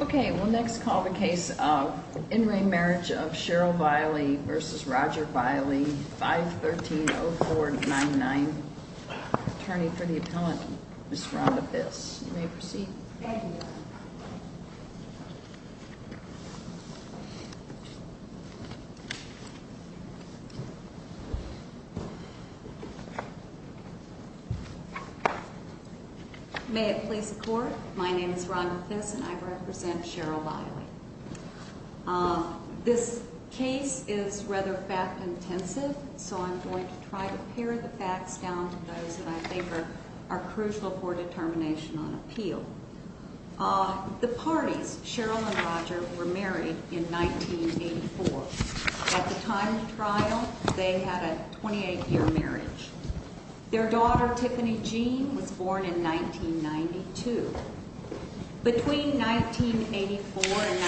Okay, we'll next call the case of in re Marriage of Cheryl Veile versus Roger Veile, 513-0499. Attorney for the Appellant, Ms. Rhonda Biss. You may proceed. Thank you. May it please the Court, my name is Rhonda Biss and I represent Cheryl Veile. This case is rather fact intensive, so I'm going to try to pare the facts down to those that I think are crucial for determination on appeal. The parties, Cheryl and Roger, were married in 1984. At the time of the trial, they had a 28-year marriage. Their daughter, Tiffany Jean, was born in 1992. Between 1984 and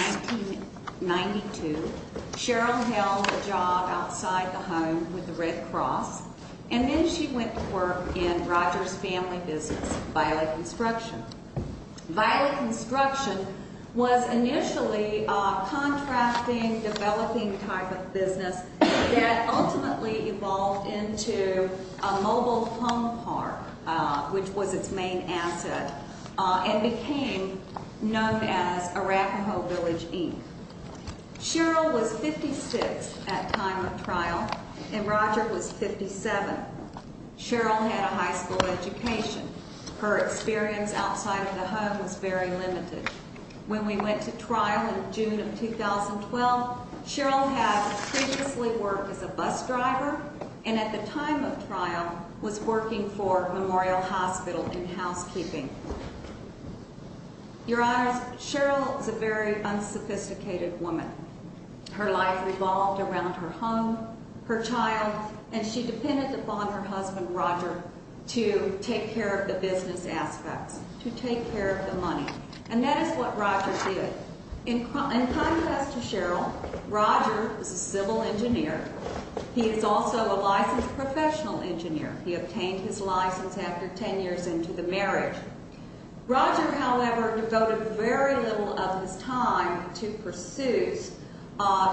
1992, Cheryl held a job outside the home with the Red Cross, and then she went to work in Roger's family business, Veile Construction. Veile Construction was initially a contracting, developing type of business that ultimately evolved into a mobile home park, which was its main asset, and became known as Arapahoe Village, Inc. Cheryl was 56 at time of trial, and Roger was 57. Cheryl had a high school education. Her experience outside of the home was very limited. When we went to trial in June of 2012, Cheryl had previously worked as a bus driver, and at the time of trial, was working for Memorial Hospital in housekeeping. Your Honors, Cheryl is a very unsophisticated woman. Her life revolved around her home, her child, and she depended upon her husband, Roger, to take care of the business aspects, to take care of the money, and that is what Roger did. In contrast to Cheryl, Roger was a civil engineer. He is also a licensed professional engineer. He obtained his license after 10 years into the marriage. Roger, however, devoted very little of his time to pursuits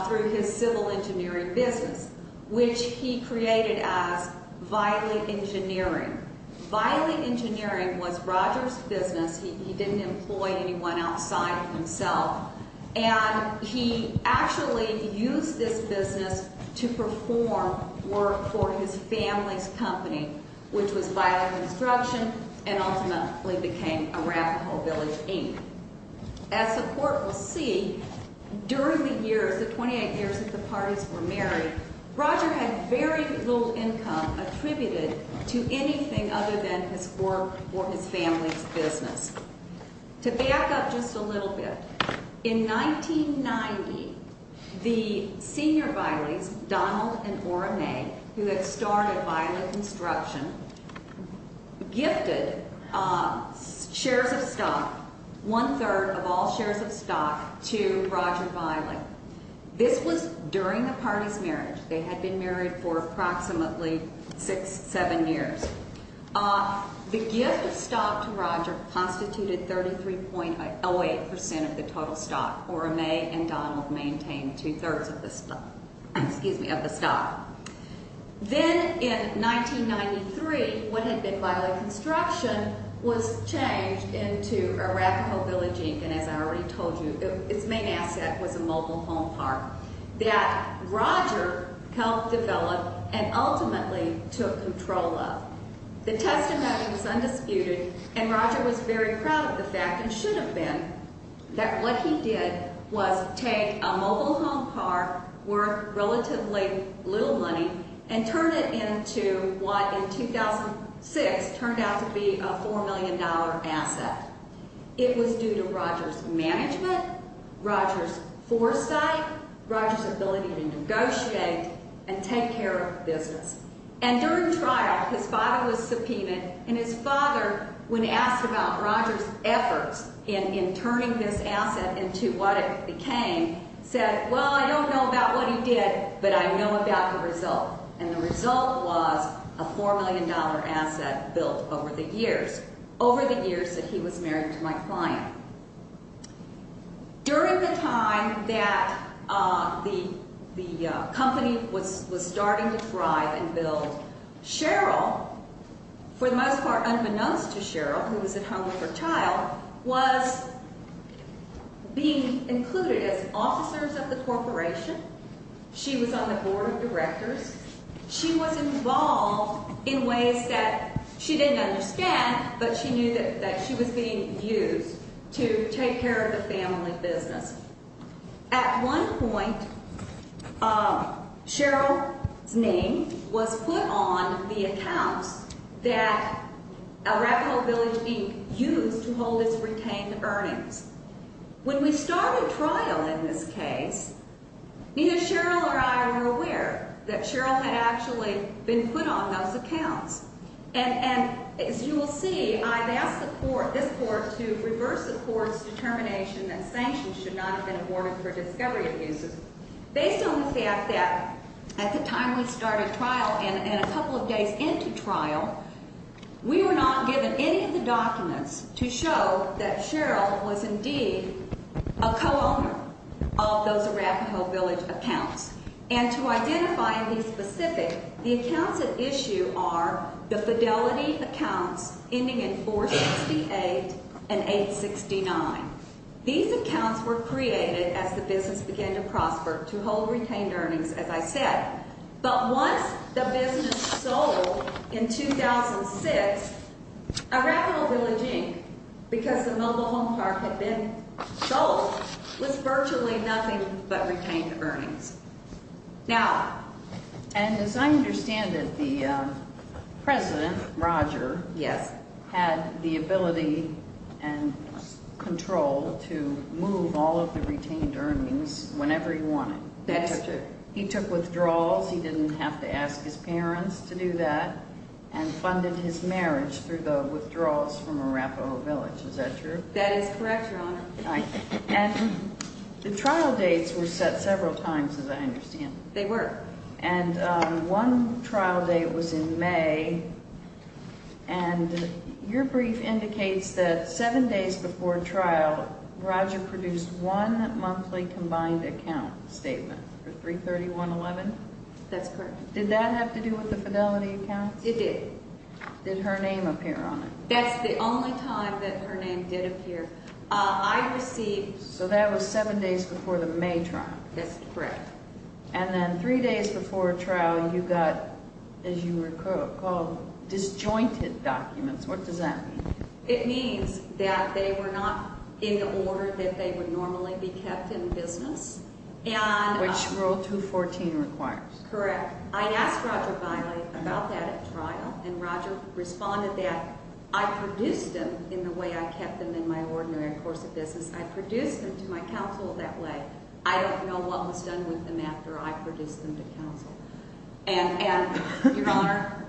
through his civil engineering business, which he created as Veile Engineering. Veile Engineering was Roger's business. He didn't employ anyone outside of himself, and he actually used this business to perform work for his family's company, which was Veile Construction, and ultimately became Arapahoe Village, Inc. As the Court will see, during the years, the 28 years that the parties were married, Roger had very little income attributed to anything other than his work or his family's business. To back up just a little bit, in 1990, the senior Veiles, Donald and Ora May, who had started Veile Construction, gifted shares of stock, one-third of all shares of stock, to Roger Veile. This was during the parties' marriage. They had been married for approximately six, seven years. The gift of stock to Roger constituted 33.08% of the total stock. Ora May and Donald maintained two-thirds of the stock. Then, in 1993, what had been Veile Construction was changed into Arapahoe Village, Inc., and as I already told you, its main asset was a mobile home park that Roger helped develop and ultimately took control of. The testimony was undisputed, and Roger was very proud of the fact, and should have been, that what he did was take a mobile home park worth relatively little money and turn it into what, in 2006, turned out to be a $4 million asset. It was due to Roger's management, Roger's foresight, Roger's ability to negotiate and take care of business. And during trial, his father was subpoenaed, and his father, when asked about Roger's efforts in turning this asset into what it became, said, well, I don't know about what he did, but I know about the result. And the result was a $4 million asset built over the years, over the years that he was married to my client. During the time that the company was starting to thrive and build, Cheryl, for the most part unbeknownst to Cheryl, who was at home with her child, was being included as officers of the corporation. She was on the board of directors. She was involved in ways that she didn't understand, but she knew that she was being used to take care of the family business. At one point, Cheryl's name was put on the accounts that Arapahoe Village Inc. used to hold its retained earnings. When we started trial in this case, neither Cheryl or I were aware that Cheryl had actually been put on those accounts. And as you will see, I've asked the court, this court, to reverse the court's determination that sanctions should not have been awarded for discovery abuses. Based on the fact that at the time we started trial and a couple of days into trial, we were not given any of the documents to show that Cheryl was indeed a co-owner of those Arapahoe Village accounts. And to identify these specific, the accounts at issue are the fidelity accounts ending in 468 and 869. These accounts were created as the business began to prosper to hold retained earnings, as I said. But once the business sold in 2006, Arapahoe Village Inc., because the mobile home park had been sold, was virtually nothing but retained earnings. Now, and as I understand it, the president, Roger, had the ability and control to move all of the retained earnings whenever he wanted. That's true. He took withdrawals. He didn't have to ask his parents to do that and funded his marriage through the withdrawals from Arapahoe Village. Is that true? That is correct, Your Honor. All right. And the trial dates were set several times, as I understand. They were. And one trial date was in May, and your brief indicates that seven days before trial, Roger produced one monthly combined account statement for 331-11? That's correct. Did that have to do with the fidelity accounts? It did. Did her name appear on it? That's the only time that her name did appear. I received... So that was seven days before the May trial. That's correct. And then three days before trial, you got, as you recall, disjointed documents. What does that mean? It means that they were not in the order that they would normally be kept in business. Which Rule 214 requires. Correct. I asked Roger Biley about that at trial, and Roger responded that I produced them in the way I kept them in my ordinary course of business. I produced them to my counsel that way. I don't know what was done with them after I produced them to counsel. And, Your Honor,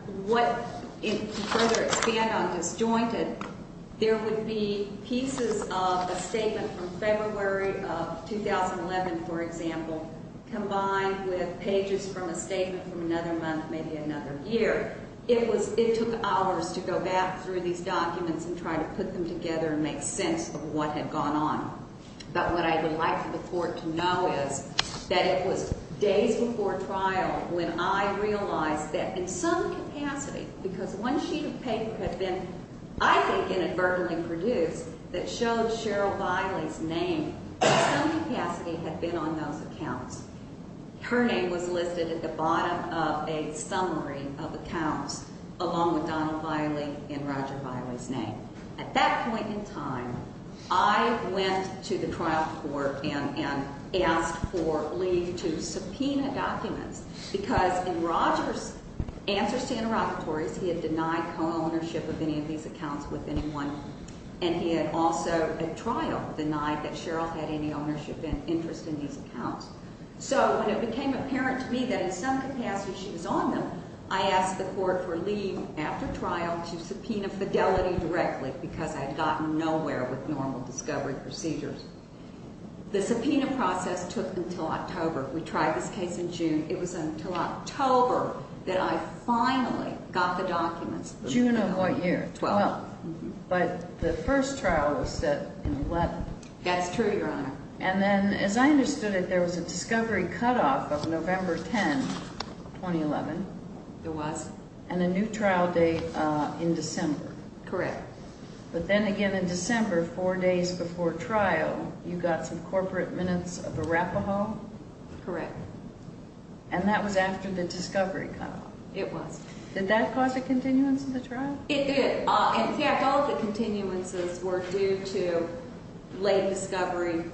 to further expand on disjointed, there would be pieces of a statement from February of 2011, for example, combined with pages from a statement from another month, maybe another year. It took hours to go back through these documents and try to put them together and make sense of what had gone on. But what I would like for the Court to know is that it was days before trial when I realized that in some capacity, because one sheet of paper had been, I think, inadvertently produced that showed Cheryl Biley's name. In some capacity had been on those accounts. Her name was listed at the bottom of a summary of accounts, along with Donald Biley and Roger Biley's name. At that point in time, I went to the trial court and asked for leave to subpoena documents, because in Roger's answers to interrogatories, he had denied co-ownership of any of these accounts with anyone. And he had also, at trial, denied that Cheryl had any ownership and interest in these accounts. So when it became apparent to me that in some capacity she was on them, I asked the Court for leave after trial to subpoena Fidelity directly, because I had gotten nowhere with normal discovery procedures. The subpoena process took until October. We tried this case in June. It was until October that I finally got the documents. June of what year? 12. But the first trial was set in 11. That's true, Your Honor. And then, as I understood it, there was a discovery cutoff of November 10, 2011. There was. And a new trial date in December. Correct. But then again in December, four days before trial, you got some corporate minutes of Arapahoe? Correct. And that was after the discovery cutoff? It was. Did that cause a continuance of the trial? It did. In fact, all the continuances were due to late discovery,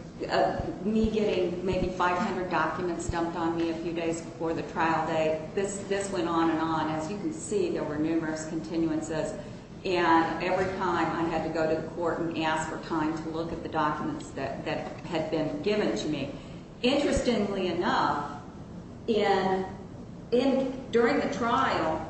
me getting maybe 500 documents dumped on me a few days before the trial date. This went on and on. As you can see, there were numerous continuances. And every time I had to go to the Court and ask for time to look at the documents that had been given to me. Interestingly enough, during the trial,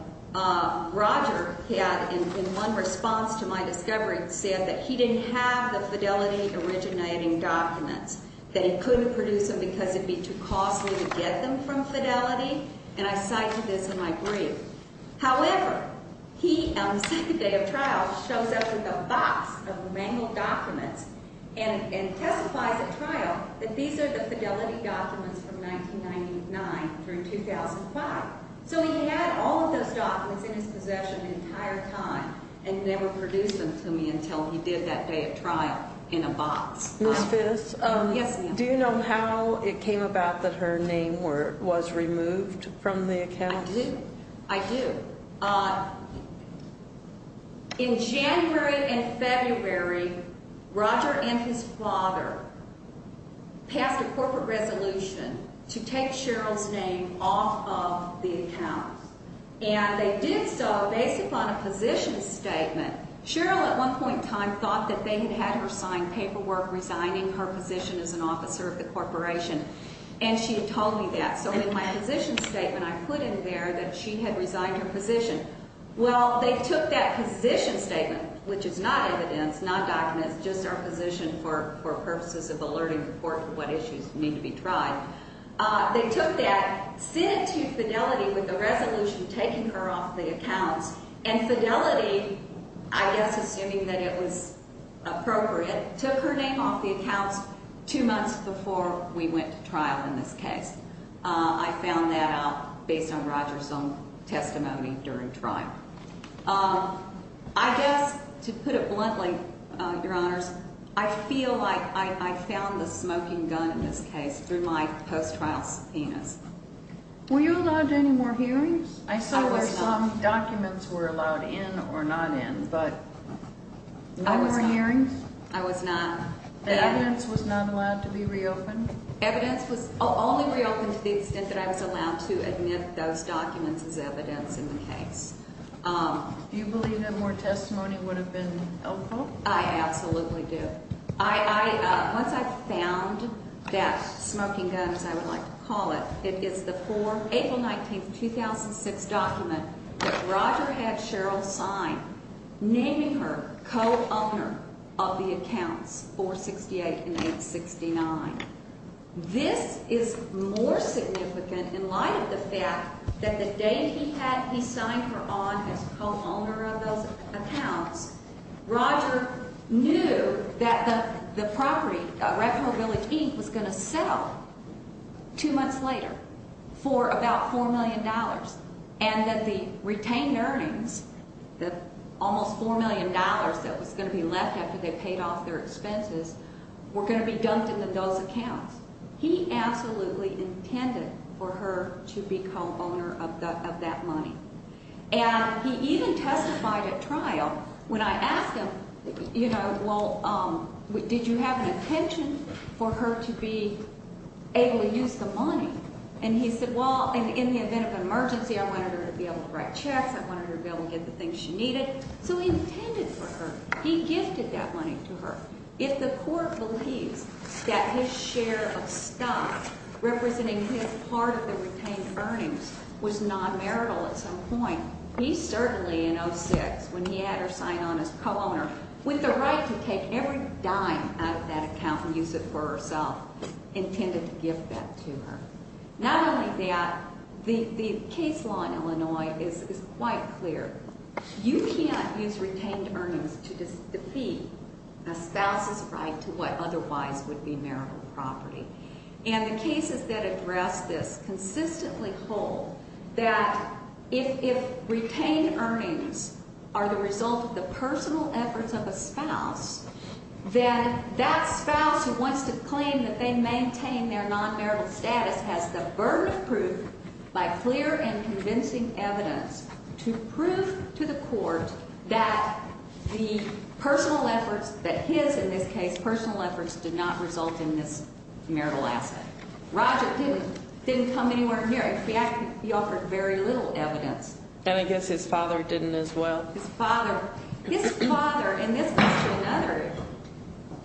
Roger had, in one response to my discovery, said that he didn't have the Fidelity originating documents, that he couldn't produce them because it would be too costly to get them from Fidelity. And I cite to this in my brief. However, he, on the second day of trial, shows up with a box of manual documents and testifies at trial that these are the Fidelity documents from 1999 through 2005. So he had all of those documents in his possession the entire time and never produced them to me until he did that day of trial in a box. Ms. Fiss? Yes, ma'am. Do you know how it came about that her name was removed from the account? I do. I do. In January and February, Roger and his father passed a corporate resolution to take Cheryl's name off of the account. And they did so based upon a position statement. Cheryl, at one point in time, thought that they had had her sign paperwork resigning her position as an officer of the corporation. And she had told me that. So in my position statement, I put in there that she had resigned her position. Well, they took that position statement, which is not evidence, not documents, just our position for purposes of alerting the court to what issues need to be tried. They took that, sent it to Fidelity with the resolution taking her off the accounts, and Fidelity, I guess assuming that it was appropriate, took her name off the accounts two months before we went to trial in this case. I found that out based on Roger's own testimony during trial. I guess, to put it bluntly, Your Honors, I feel like I found the smoking gun in this case through my post-trial subpoenas. Were you allowed any more hearings? I was not. Documents were allowed in or not in, but no more hearings? I was not. Evidence was not allowed to be reopened? Evidence was only reopened to the extent that I was allowed to admit those documents as evidence in the case. Do you believe that more testimony would have been helpful? I absolutely do. Once I found that smoking gun, as I would like to call it, it is the 4 April 19, 2006 document that Roger had Cheryl sign, naming her co-owner of the accounts 468 and 869. This is more significant in light of the fact that the date he had he signed her on as co-owner of those accounts, Roger knew that the property, Red Hill Village, Inc., was going to sell two months later for about $4 million and that the retained earnings, the almost $4 million that was going to be left after they paid off their expenses, were going to be dumped in those accounts. He absolutely intended for her to be co-owner of that money. And he even testified at trial when I asked him, you know, well, did you have an intention for her to be able to use the money? And he said, well, in the event of an emergency, I wanted her to be able to write checks. I wanted her to be able to get the things she needed. So he intended for her. He gifted that money to her. If the court believes that his share of stuff, representing his part of the retained earnings, was non-marital at some point, he certainly, in 2006, when he had her sign on as co-owner, with the right to take every dime out of that account and use it for herself, intended to give that to her. Not only that, the case law in Illinois is quite clear. You can't use retained earnings to defeat a spouse's right to what otherwise would be marital property. And the cases that address this consistently hold that if retained earnings are the result of the personal efforts of a spouse, then that spouse who wants to claim that they maintain their non-marital status has the burden of proof, by clear and convincing evidence, to prove to the court that the personal efforts, that his, in this case, personal efforts did not result in this marital asset. Roger didn't come anywhere near it. In fact, he offered very little evidence. And I guess his father didn't as well. His father. His father, and this goes to another issue.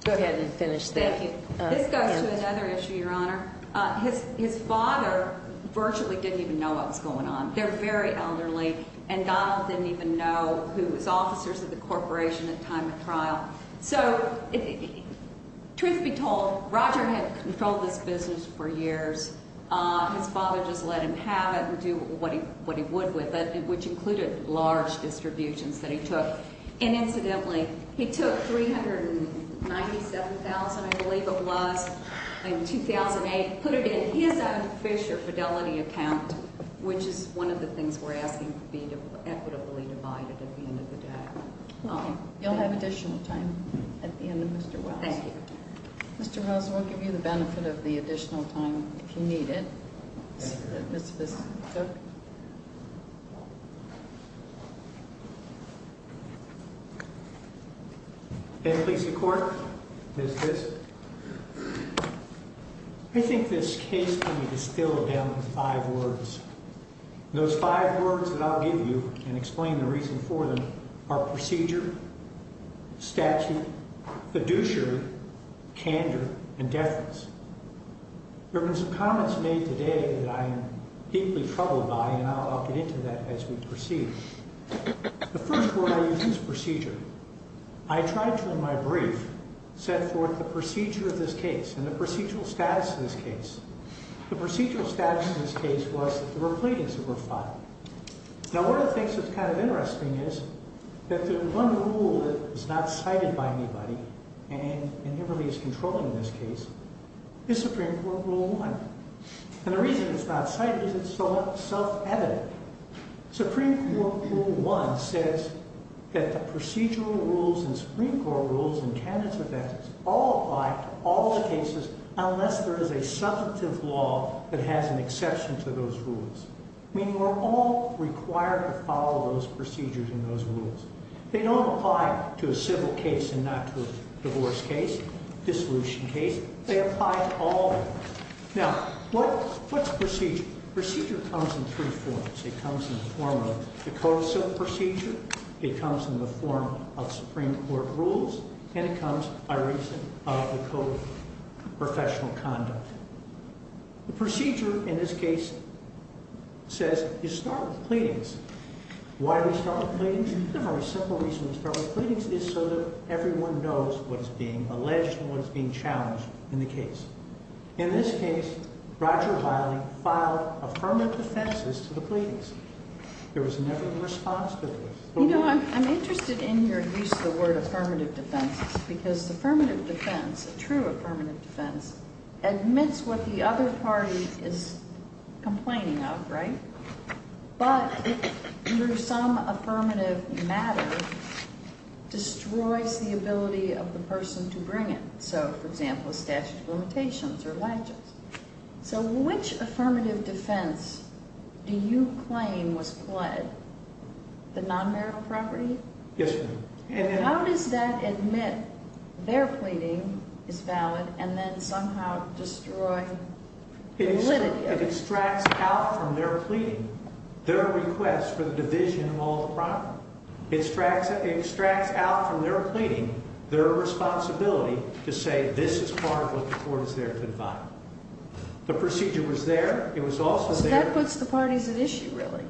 Go ahead and finish that. Thank you. This goes to another issue, Your Honor. His father virtually didn't even know what was going on. They're very elderly, and Donald didn't even know who was officers of the corporation at time of trial. So, truth be told, Roger had controlled this business for years. His father just let him have it and do what he would with it, which included large distributions that he took. And incidentally, he took $397,000, I believe it was, in 2008, put it in his own Fisher Fidelity account, which is one of the things we're asking to be equitably divided at the end of the day. Okay. You'll have additional time at the end of Mr. Wells. Thank you. Mr. Wells, we'll give you the benefit of the additional time if you need it. Thank you. Mr. Bissett. Go ahead. May it please the Court? Ms. Bissett. I think this case can be distilled down to five words. Those five words that I'll give you and explain the reason for them are procedure, statute, fiduciary, candor, and deference. There have been some comments made today that I am deeply troubled by, and I'll get into that as we proceed. The first one I use is procedure. I tried to, in my brief, set forth the procedure of this case and the procedural status of this case. The procedural status of this case was that there were pleadings that were filed. Now, one of the things that's kind of interesting is that the one rule that is not cited by anybody, and never really is controlled in this case, is Supreme Court Rule 1. And the reason it's not cited is it's somewhat self-evident. Supreme Court Rule 1 says that the procedural rules and Supreme Court rules all apply to all the cases unless there is a substantive law that has an exception to those rules, meaning we're all required to follow those procedures and those rules. They don't apply to a civil case and not to a divorce case, dissolution case. They apply to all of them. Now, what's procedure? Procedure comes in three forms. It comes in the form of the code of civil procedure. It comes in the form of Supreme Court rules. And it comes by reason of the code of professional conduct. The procedure in this case says you start with pleadings. Why do we start with pleadings? The very simple reason we start with pleadings is so that everyone knows what is being alleged and what is being challenged in the case. In this case, Roger Biley filed affirmative defenses to the pleadings. There was never a response to this. You know, I'm interested in your use of the word affirmative defenses because affirmative defense, a true affirmative defense, admits what the other party is complaining of, right? But under some affirmative matter, destroys the ability of the person to bring it. So, for example, a statute of limitations or ledgers. So which affirmative defense do you claim was pled? The non-marital property? Yes, ma'am. How does that admit their pleading is valid and then somehow destroy validity of it? It extracts out from their pleading their request for the division of all the property. It extracts out from their pleading their responsibility to say this is part of what the court is there to define. The procedure was there. It was also there. So that puts the parties at issue, really.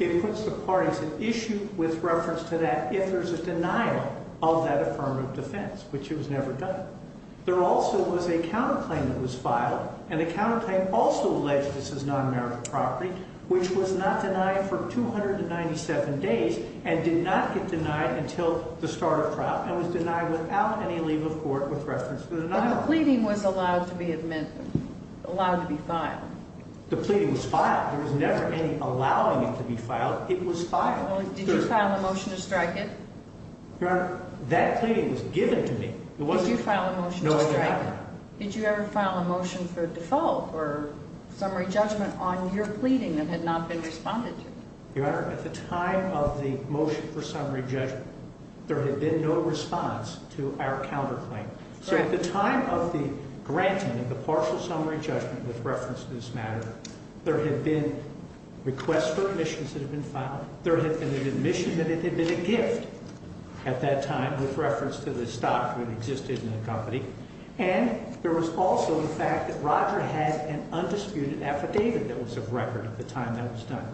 It puts the parties at issue with reference to that if there's a denial of that affirmative defense, which it was never done. There also was a counterclaim that was filed, and the counterclaim also alleged this as non-marital property, which was not denied for 297 days and did not get denied until the start of trial and was denied without any leave of court with reference to the denial. The pleading was allowed to be filed. The pleading was filed. There was never any allowing it to be filed. It was filed. Did you file a motion to strike it? Your Honor, that pleading was given to me. Did you file a motion to strike it? No, I did not. Did you ever file a motion for default or summary judgment on your pleading that had not been responded to? Your Honor, at the time of the motion for summary judgment, there had been no response to our counterclaim. So at the time of the granting of the partial summary judgment with reference to this matter, there had been requests for admissions that had been filed. There had been an admission that it had been a gift at that time with reference to the stock that existed in the company, and there was also the fact that Roger had an undisputed affidavit that was of record at the time that was done.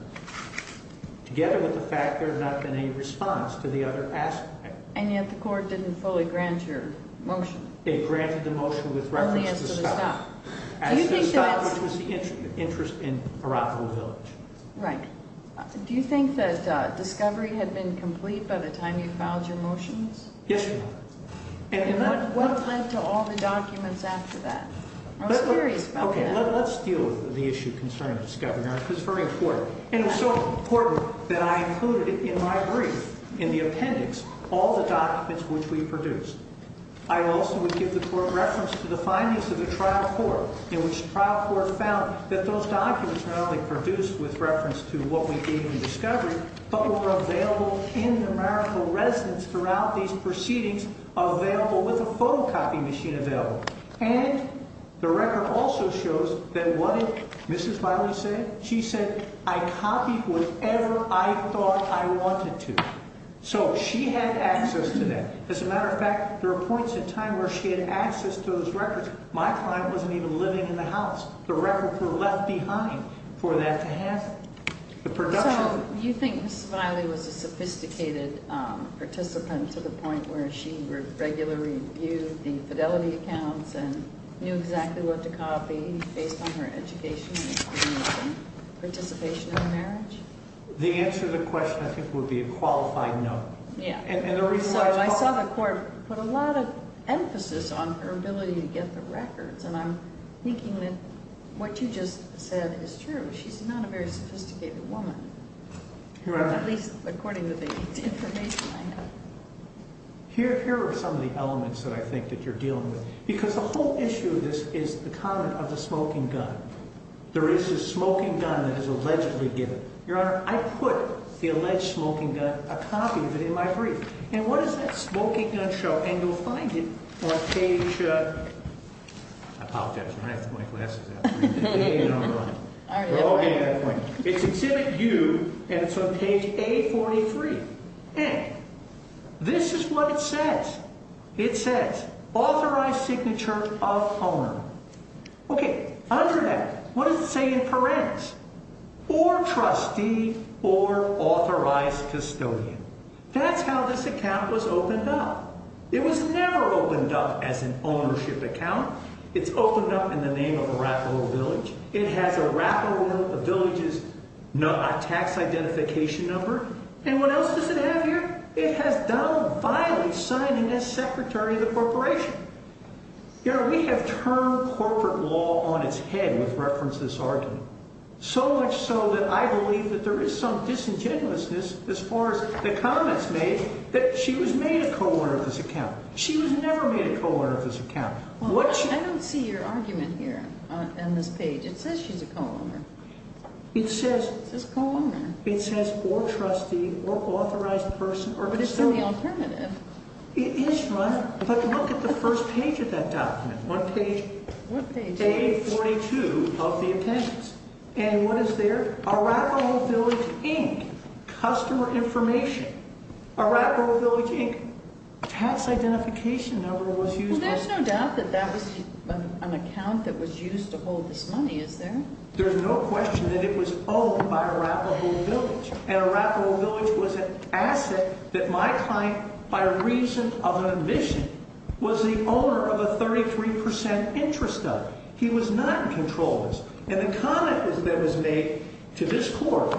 Together with the fact there had not been a response to the other aspect. And yet the court didn't fully grant your motion. It granted the motion with reference to the stock. Only as to the stock. As to the stock, which was the interest in Arapahoe Village. Right. Do you think that discovery had been complete by the time you filed your motions? Yes, Your Honor. And what led to all the documents after that? I was curious about that. Okay, let's deal with the issue concerning discovery, Your Honor, because it's very important. And it's so important that I included in my brief, in the appendix, all the documents which we produced. I also would give the court reference to the findings of the trial court, in which the trial court found that those documents were not only produced with reference to what we gave in discovery, but were available in numerical residence throughout these proceedings, available with a photocopy machine available. And the record also shows that what did Mrs. Riley say? She said, I copied whatever I thought I wanted to. So she had access to that. As a matter of fact, there were points in time where she had access to those records. My client wasn't even living in the house. The records were left behind for that to happen. So you think Mrs. Riley was a sophisticated participant to the point where she would regularly review the fidelity accounts and knew exactly what to copy based on her education and experience and participation in the marriage? The answer to the question, I think, would be a qualified no. So I saw the court put a lot of emphasis on her ability to get the records, and I'm thinking that what you just said is true. She's not a very sophisticated woman, at least according to the information I have. Here are some of the elements that I think that you're dealing with. Because the whole issue of this is the comment of the smoking gun. There is a smoking gun that is allegedly given. Your Honor, I put the alleged smoking gun, a copy of it, in my brief. And what does that smoking gun show? And you'll find it on page—I apologize. I'm going to have to put my glasses out. It's exhibit U, and it's on page A43. And this is what it says. It says, authorized signature of owner. Okay, under that, what does it say in parens? Or trustee, or authorized custodian. That's how this account was opened up. It was never opened up as an ownership account. It's opened up in the name of Arapaho Village. It has Arapaho Village's tax identification number. And what else does it have here? It has Donald Violet signing as secretary of the corporation. Your Honor, we have termed corporate law on its head with reference to this argument. So much so that I believe that there is some disingenuousness, as far as the comments made, that she was made a co-owner of this account. She was never made a co-owner of this account. I don't see your argument here on this page. It says she's a co-owner. It says— It says co-owner. It says, or trustee, or authorized person, or custodian. But it's in the alternative. It is, Your Honor. But look at the first page of that document. One page. Page 42 of the attendance. And what is there? Arapaho Village, Inc. Customer information. Arapaho Village, Inc. Tax identification number was used by— Well, there's no doubt that that was an account that was used to hold this money, is there? There's no question that it was owned by Arapaho Village. And Arapaho Village was an asset that my client, by reason of an admission, was the owner of a 33% interest of. He was not in control of this. And the comment that was made to this Court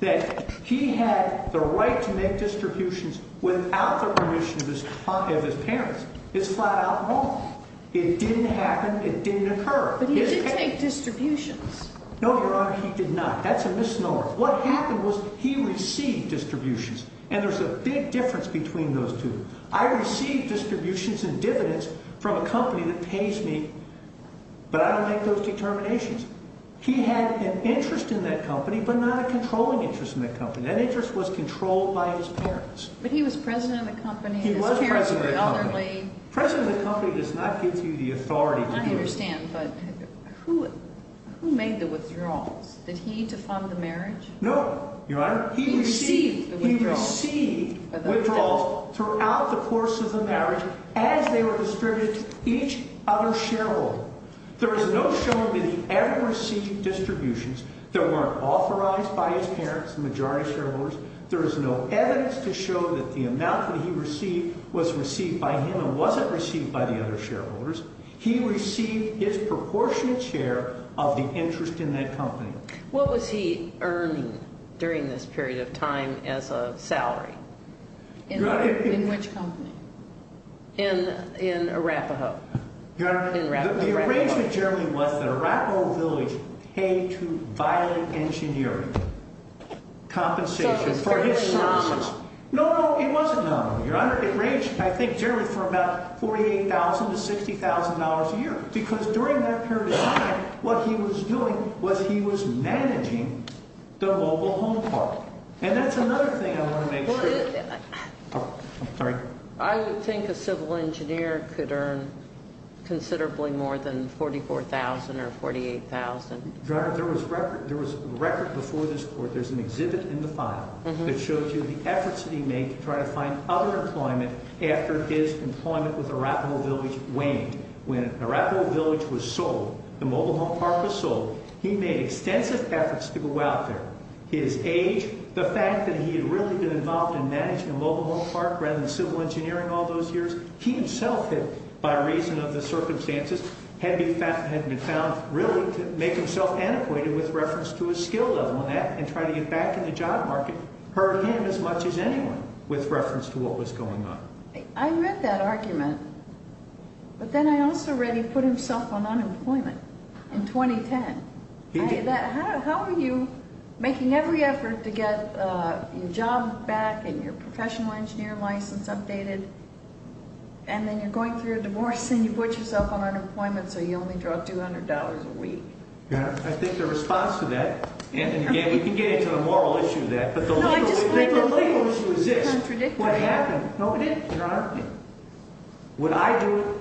that he had the right to make distributions without the permission of his parents is flat-out wrong. It didn't happen. It didn't occur. But he did take distributions. No, Your Honor, he did not. That's a misnomer. What happened was he received distributions, and there's a big difference between those two. I receive distributions and dividends from a company that pays me, but I don't make those determinations. He had an interest in that company, but not a controlling interest in that company. That interest was controlled by his parents. But he was president of the company. He was president of the company. His parents were elderly. President of the company does not give you the authority to do it. I understand, but who made the withdrawals? Did he to fund the marriage? No, Your Honor. He received withdrawals throughout the course of the marriage as they were distributed to each other shareholder. There is no showing that he ever received distributions that weren't authorized by his parents, the majority shareholders. There is no evidence to show that the amount that he received was received by him and wasn't received by the other shareholders. He received his proportionate share of the interest in that company. What was he earning during this period of time as a salary? In which company? In Arapahoe. Your Honor, the arrangement generally was that Arapahoe Village paid to Violet Engineering compensation for his services. So it was fairly nominal. No, no, it wasn't nominal, Your Honor. It ranged, I think, generally for about $48,000 to $60,000 a year. Because during that period of time, what he was doing was he was managing the local home park. And that's another thing I want to make sure. I would think a civil engineer could earn considerably more than $44,000 or $48,000. Your Honor, there was record before this court, there's an exhibit in the file that shows you the efforts that he made to try to find other employment after his employment with Arapahoe Village waned. When Arapahoe Village was sold, the mobile home park was sold, he made extensive efforts to go out there. His age, the fact that he had really been involved in managing a mobile home park rather than civil engineering all those years, he himself had, by reason of the circumstances, had been found really to make himself antiquated with reference to a skill level. And trying to get back in the job market hurt him as much as anyone with reference to what was going on. I read that argument. But then I also read he put himself on unemployment in 2010. How are you making every effort to get your job back and your professional engineer license updated, and then you're going through a divorce and you put yourself on unemployment so you only draw $200 a week? I think the response to that, and you can get into the moral issue of that, but the legal issue is this. What happened? No, it didn't, Your Honor. What I do,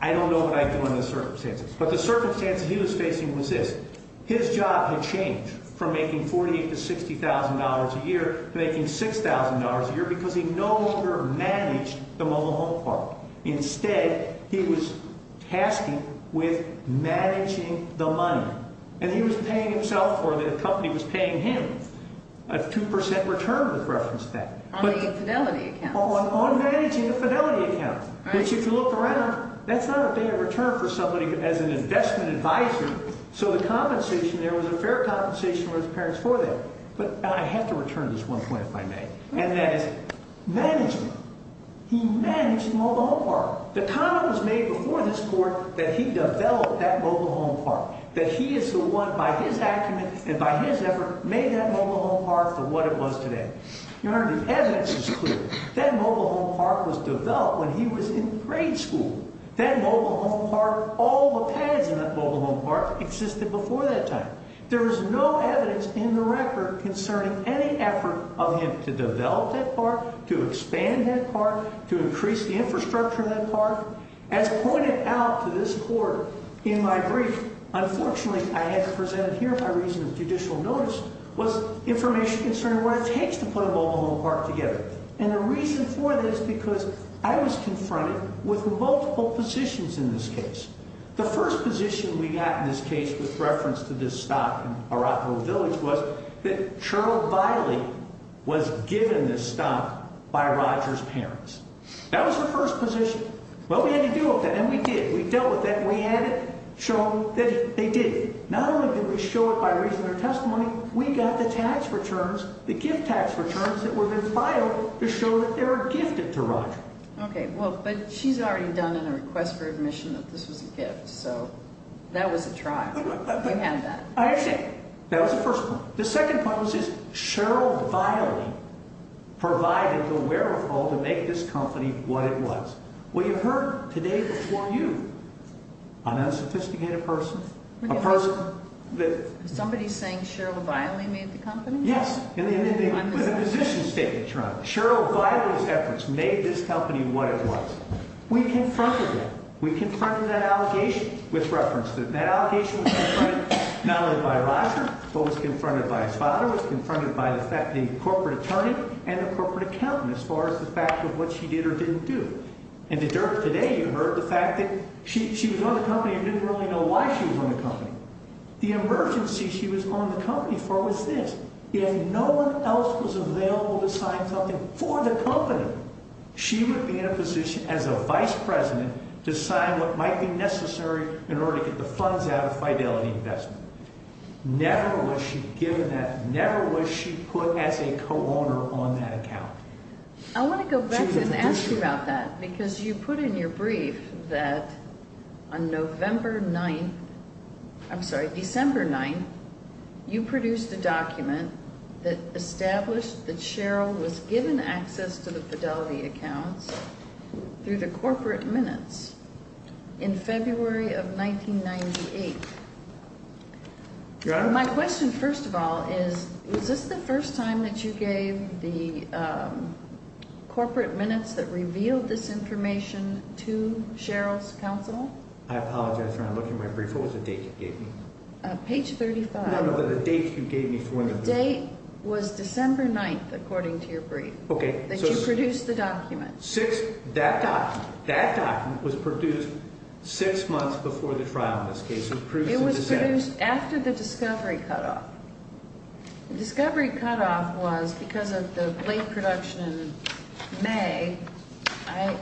I don't know what I do under the circumstances. But the circumstances he was facing was this. His job had changed from making $40,000 to $60,000 a year to making $6,000 a year because he no longer managed the mobile home park. Instead, he was tasked with managing the money. And he was paying himself or the company was paying him a 2% return with reference to that. On the fidelity account? On managing the fidelity account. Which if you look around, that's not a fair return for somebody as an investment advisor. So the compensation there was a fair compensation for his parents for that. But I have to return this one point if I may, and that is management. He managed the mobile home park. The comment was made before this court that he developed that mobile home park, that he is the one by his acumen and by his effort made that mobile home park for what it was today. Your Honor, the evidence is clear. That mobile home park was developed when he was in grade school. That mobile home park, all the pads in that mobile home park existed before that time. There is no evidence in the record concerning any effort of him to develop that park, to expand that park, to increase the infrastructure of that park. As pointed out to this court in my brief, unfortunately I had to present it here. My reason of judicial notice was information concerning what it takes to put a mobile home park together. And the reason for this is because I was confronted with multiple positions in this case. The first position we got in this case with reference to this stock in Arapahoe Village was that Charlotte Viley was given this stock by Roger's parents. That was the first position. Well, we had to deal with that, and we did. We dealt with that, and we had it shown that they did. Not only did we show it by reason or testimony, we got the tax returns, the gift tax returns that were then filed to show that they were gifted to Roger. Okay, well, but she's already done in a request for admission that this was a gift, so that was a trial. We have that. I understand. That was the first point. The second point was that Cheryl Viley provided the wherewithal to make this company what it was. Well, you've heard today before you on a sophisticated person, a person that... Somebody saying Cheryl Viley made the company? Yes. With a position statement, Your Honor. Cheryl Viley's efforts made this company what it was. We confronted that. We confronted that allegation with reference to it. It was confronted by a father. It was confronted by a corporate attorney and a corporate accountant as far as the fact of what she did or didn't do. And today you heard the fact that she was on the company and didn't really know why she was on the company. The emergency she was on the company for was this. If no one else was available to sign something for the company, she would be in a position as a vice president to sign what might be necessary in order to get the funds out of Fidelity Investment. Never was she given that. Never was she put as a co-owner on that account. I want to go back and ask you about that because you put in your brief that on November 9th... I'm sorry, December 9th, you produced a document that established that Cheryl was given access to the Fidelity accounts through the corporate minutes in February of 1998. Your Honor? My question first of all is, was this the first time that you gave the corporate minutes that revealed this information to Cheryl's counsel? I apologize for not looking at my brief. What was the date you gave me? Page 35. No, no, the date you gave me for the brief. The date was December 9th according to your brief that you produced the document. That document was produced six months before the trial in this case. It was produced after the discovery cutoff. The discovery cutoff was, because of the late production in May, I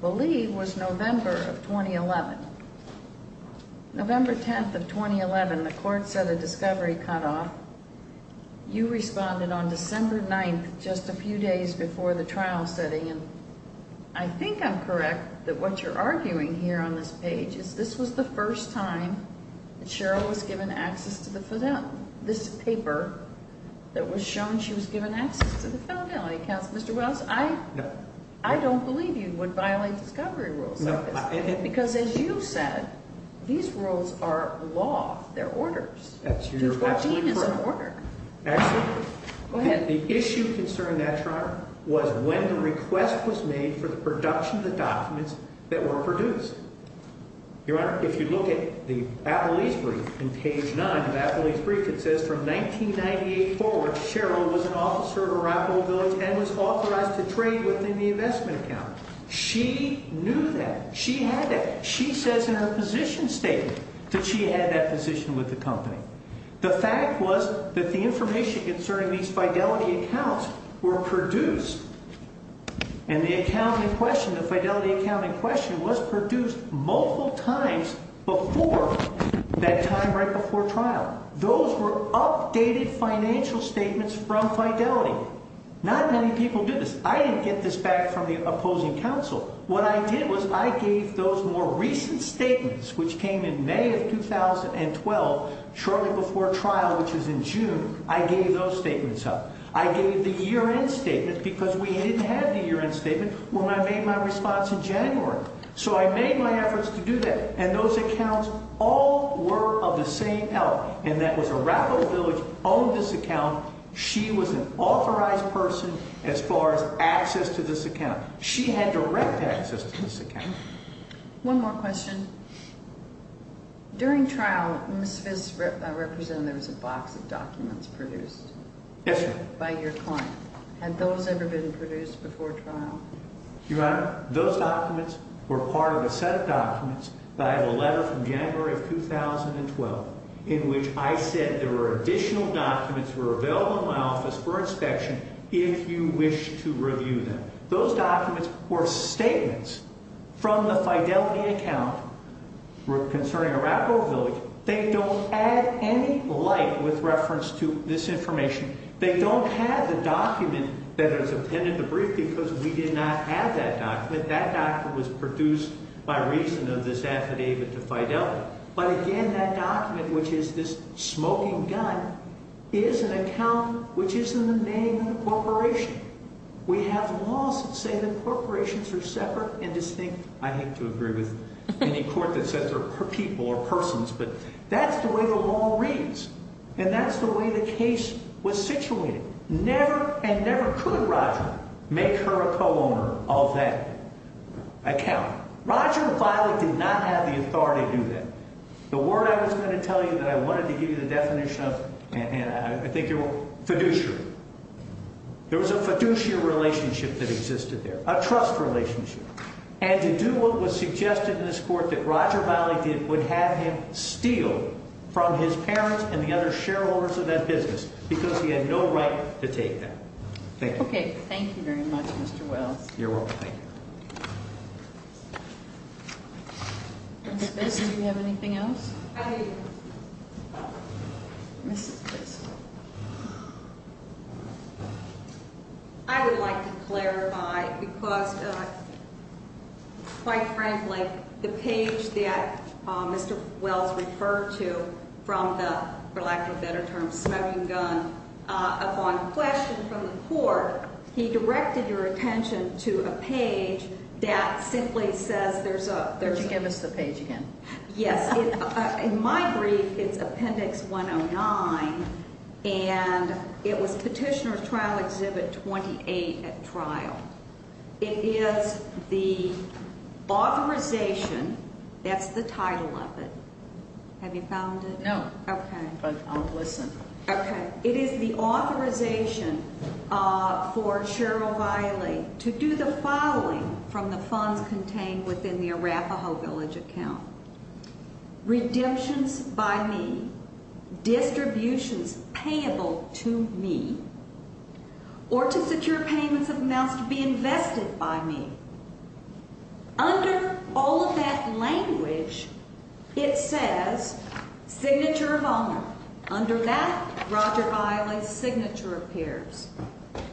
believe was November of 2011. November 10th of 2011, the court said the discovery cutoff. You responded on December 9th, just a few days before the trial setting, and I think I'm correct that what you're arguing here on this page is this was the first time that Cheryl was given access to this paper that was shown she was given access to the Fidelity accounts. Mr. Wells, I don't believe you would violate discovery rules like this because as you said, these rules are law. They're orders. The 14th is an order. Actually, the issue concerning that, Your Honor, was when the request was made for the production of the documents that were produced. Your Honor, if you look at the Appellee's brief in page 9 of Appellee's brief, it says from 1998 forward, Cheryl was an officer at Arapahoe Village and was authorized to trade within the investment account. She knew that. She had that. She says in her position statement that she had that position with the company. The fact was that the information concerning these Fidelity accounts were produced and the accounting question, the Fidelity accounting question was produced multiple times before that time right before trial. Those were updated financial statements from Fidelity. Not many people do this. I didn't get this back from the opposing counsel. What I did was I gave those more recent statements, which came in May of 2012, shortly before trial, which was in June. I gave those statements up. I gave the year-end statements because we didn't have the year-end statement when I made my response in January. So I made my efforts to do that. And those accounts all were of the same elder, and that was Arapahoe Village owned this account. She was an authorized person as far as access to this account. She had direct access to this account. One more question. During trial, Ms. Viz represented there was a box of documents produced. Yes, ma'am. By your client. Had those ever been produced before trial? Your Honor, those documents were part of a set of documents that I have a letter from January of 2012 in which I said there were additional documents that were available in my office for inspection if you wish to review them. Those documents were statements from the Fidelity account concerning Arapahoe Village. They don't add any light with reference to this information. They don't have the document that is appended to brief because we did not have that document. That document was produced by reason of this affidavit to Fidelity. But again, that document, which is this smoking gun, is an account which is in the name of the corporation. We have laws that say that corporations are separate and distinct. I hate to agree with any court that says they're people or persons, but that's the way the law reads, and that's the way the case was situated. Never and never could Roger make her a co-owner of that account. Roger Bilek did not have the authority to do that. The word I was going to tell you that I wanted to give you the definition of, and I think you're wrong, fiduciary. There was a fiduciary relationship that existed there, a trust relationship. And to do what was suggested in this court that Roger Bilek did would have him steal from his parents and the other shareholders of that business because he had no right to take that. Thank you. Okay, thank you very much, Mr. Wells. You're welcome. Ms. Vest, do you have anything else? I do. Ms. Vest. I would like to clarify because, quite frankly, the page that Mr. Wells referred to from the, for lack of a better term, the smoking gun, upon question from the court, he directed your attention to a page that simply says there's a- Could you give us the page again? Yes. In my brief, it's Appendix 109, and it was Petitioner's Trial Exhibit 28 at trial. It is the authorization, that's the title of it. Have you found it? No. Okay. But I'll listen. Okay. It is the authorization for Cheryl Bilek to do the following from the funds contained within the Arafaho Village account. Redemptions by me, distributions payable to me, or to secure payments of amounts to be invested by me. Under all of that language, it says signature of owner. Under that, Roger Bilek's signature appears.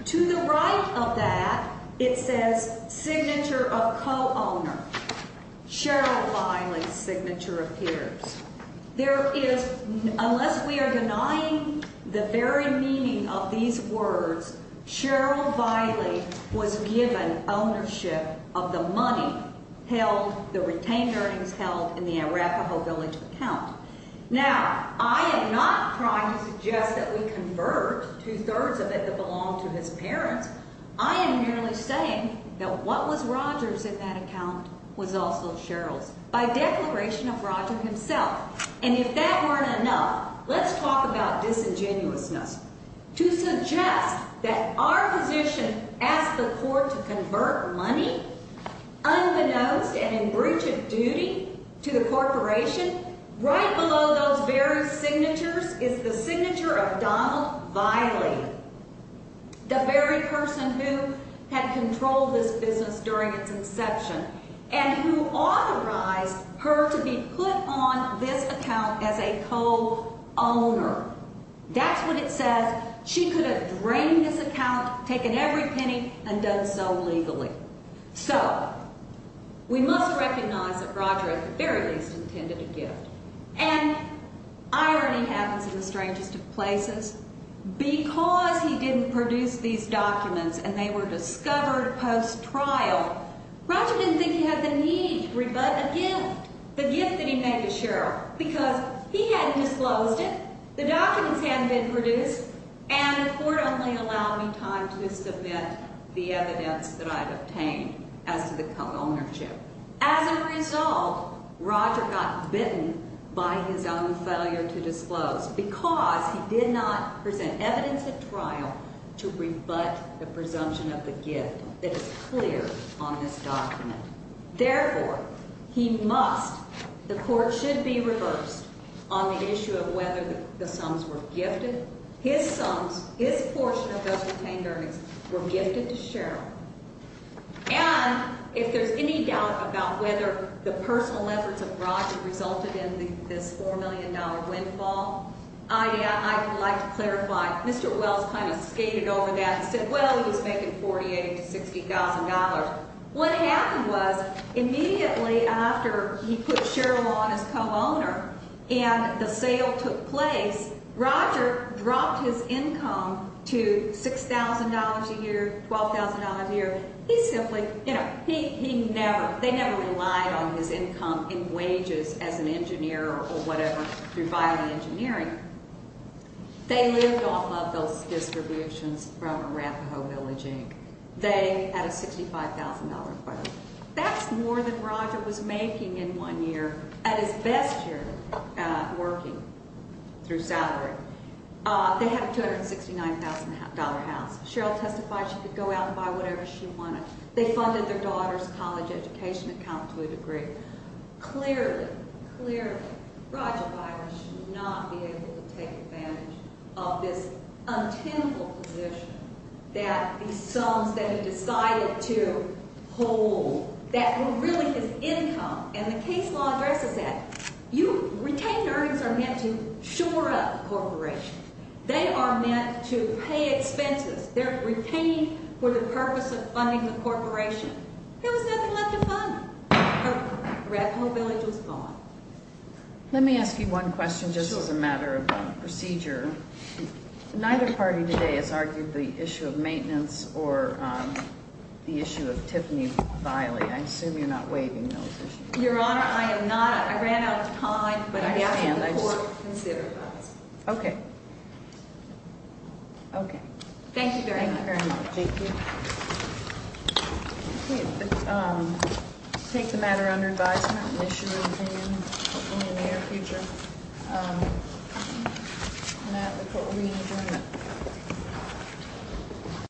To the right of that, it says signature of co-owner. Cheryl Bilek's signature appears. There is, unless we are denying the very meaning of these words, Cheryl Bilek was given ownership of the money held, the retained earnings held in the Arafaho Village account. Now, I am not trying to suggest that we convert two-thirds of it that belonged to his parents. I am merely saying that what was Roger's in that account was also Cheryl's. By declaration of Roger himself. And if that weren't enough, let's talk about disingenuousness. To suggest that our position as the court to convert money unbeknownst and in breach of duty to the corporation, right below those very signatures is the signature of Donald Viley, the very person who had controlled this business during its inception and who authorized her to be put on this account as a co-owner. That's what it says. She could have drained this account, taken every penny, and done so legally. So, we must recognize that Roger at the very least intended a gift. And irony happens in the strangest of places because he didn't produce these documents and they were discovered post-trial. Roger didn't think he had the need to rebut a gift. The gift that he made to Cheryl because he hadn't disclosed it, the documents hadn't been produced, and the court only allowed me time to submit the evidence that I had obtained as to the co-ownership. As a result, Roger got bitten by his own failure to disclose because he did not present evidence at trial to rebut the presumption of the gift that is clear on this document. Therefore, he must, the court should be reversed on the issue of whether the sums were gifted. His sums, his portion of those retained earnings were gifted to Cheryl. And if there's any doubt about whether the personal efforts of Roger resulted in this $4 million windfall, I would like to clarify. Mr. Wells kind of skated over that and said, well, he was making $48,000 to $60,000. What happened was immediately after he put Cheryl on as co-owner and the sale took place, Roger dropped his income to $6,000 a year, $12,000 a year. He simply, you know, he never, they never relied on his income in wages as an engineer or whatever through filing engineering. They lived off of those distributions from Arapahoe Village, Inc. They had a $65,000 quote. That's more than Roger was making in one year at his best year working through salary. They had a $269,000 house. Cheryl testified she could go out and buy whatever she wanted. They funded their daughter's college education account to a degree. Clearly, clearly, Roger Byers should not be able to take advantage of this untenable position that the sons that he decided to hold that were really his income. And the case law addresses that. You retainers are meant to shore up corporations. They are meant to pay expenses. They're retained for the purpose of funding the corporation. There was nothing left to fund. Arapahoe Village was gone. Let me ask you one question just as a matter of procedure. Neither party today has argued the issue of maintenance or the issue of Tiffany Biley. I assume you're not waiving those issues. Your Honor, I am not. I ran out of time, but I ask that the Court consider those. Okay. Okay. Thank you very much. Thank you very much. Thank you. We take the matter under advisement and issue an opinion, hopefully, in the near future. And with that, the Court will be in adjournment.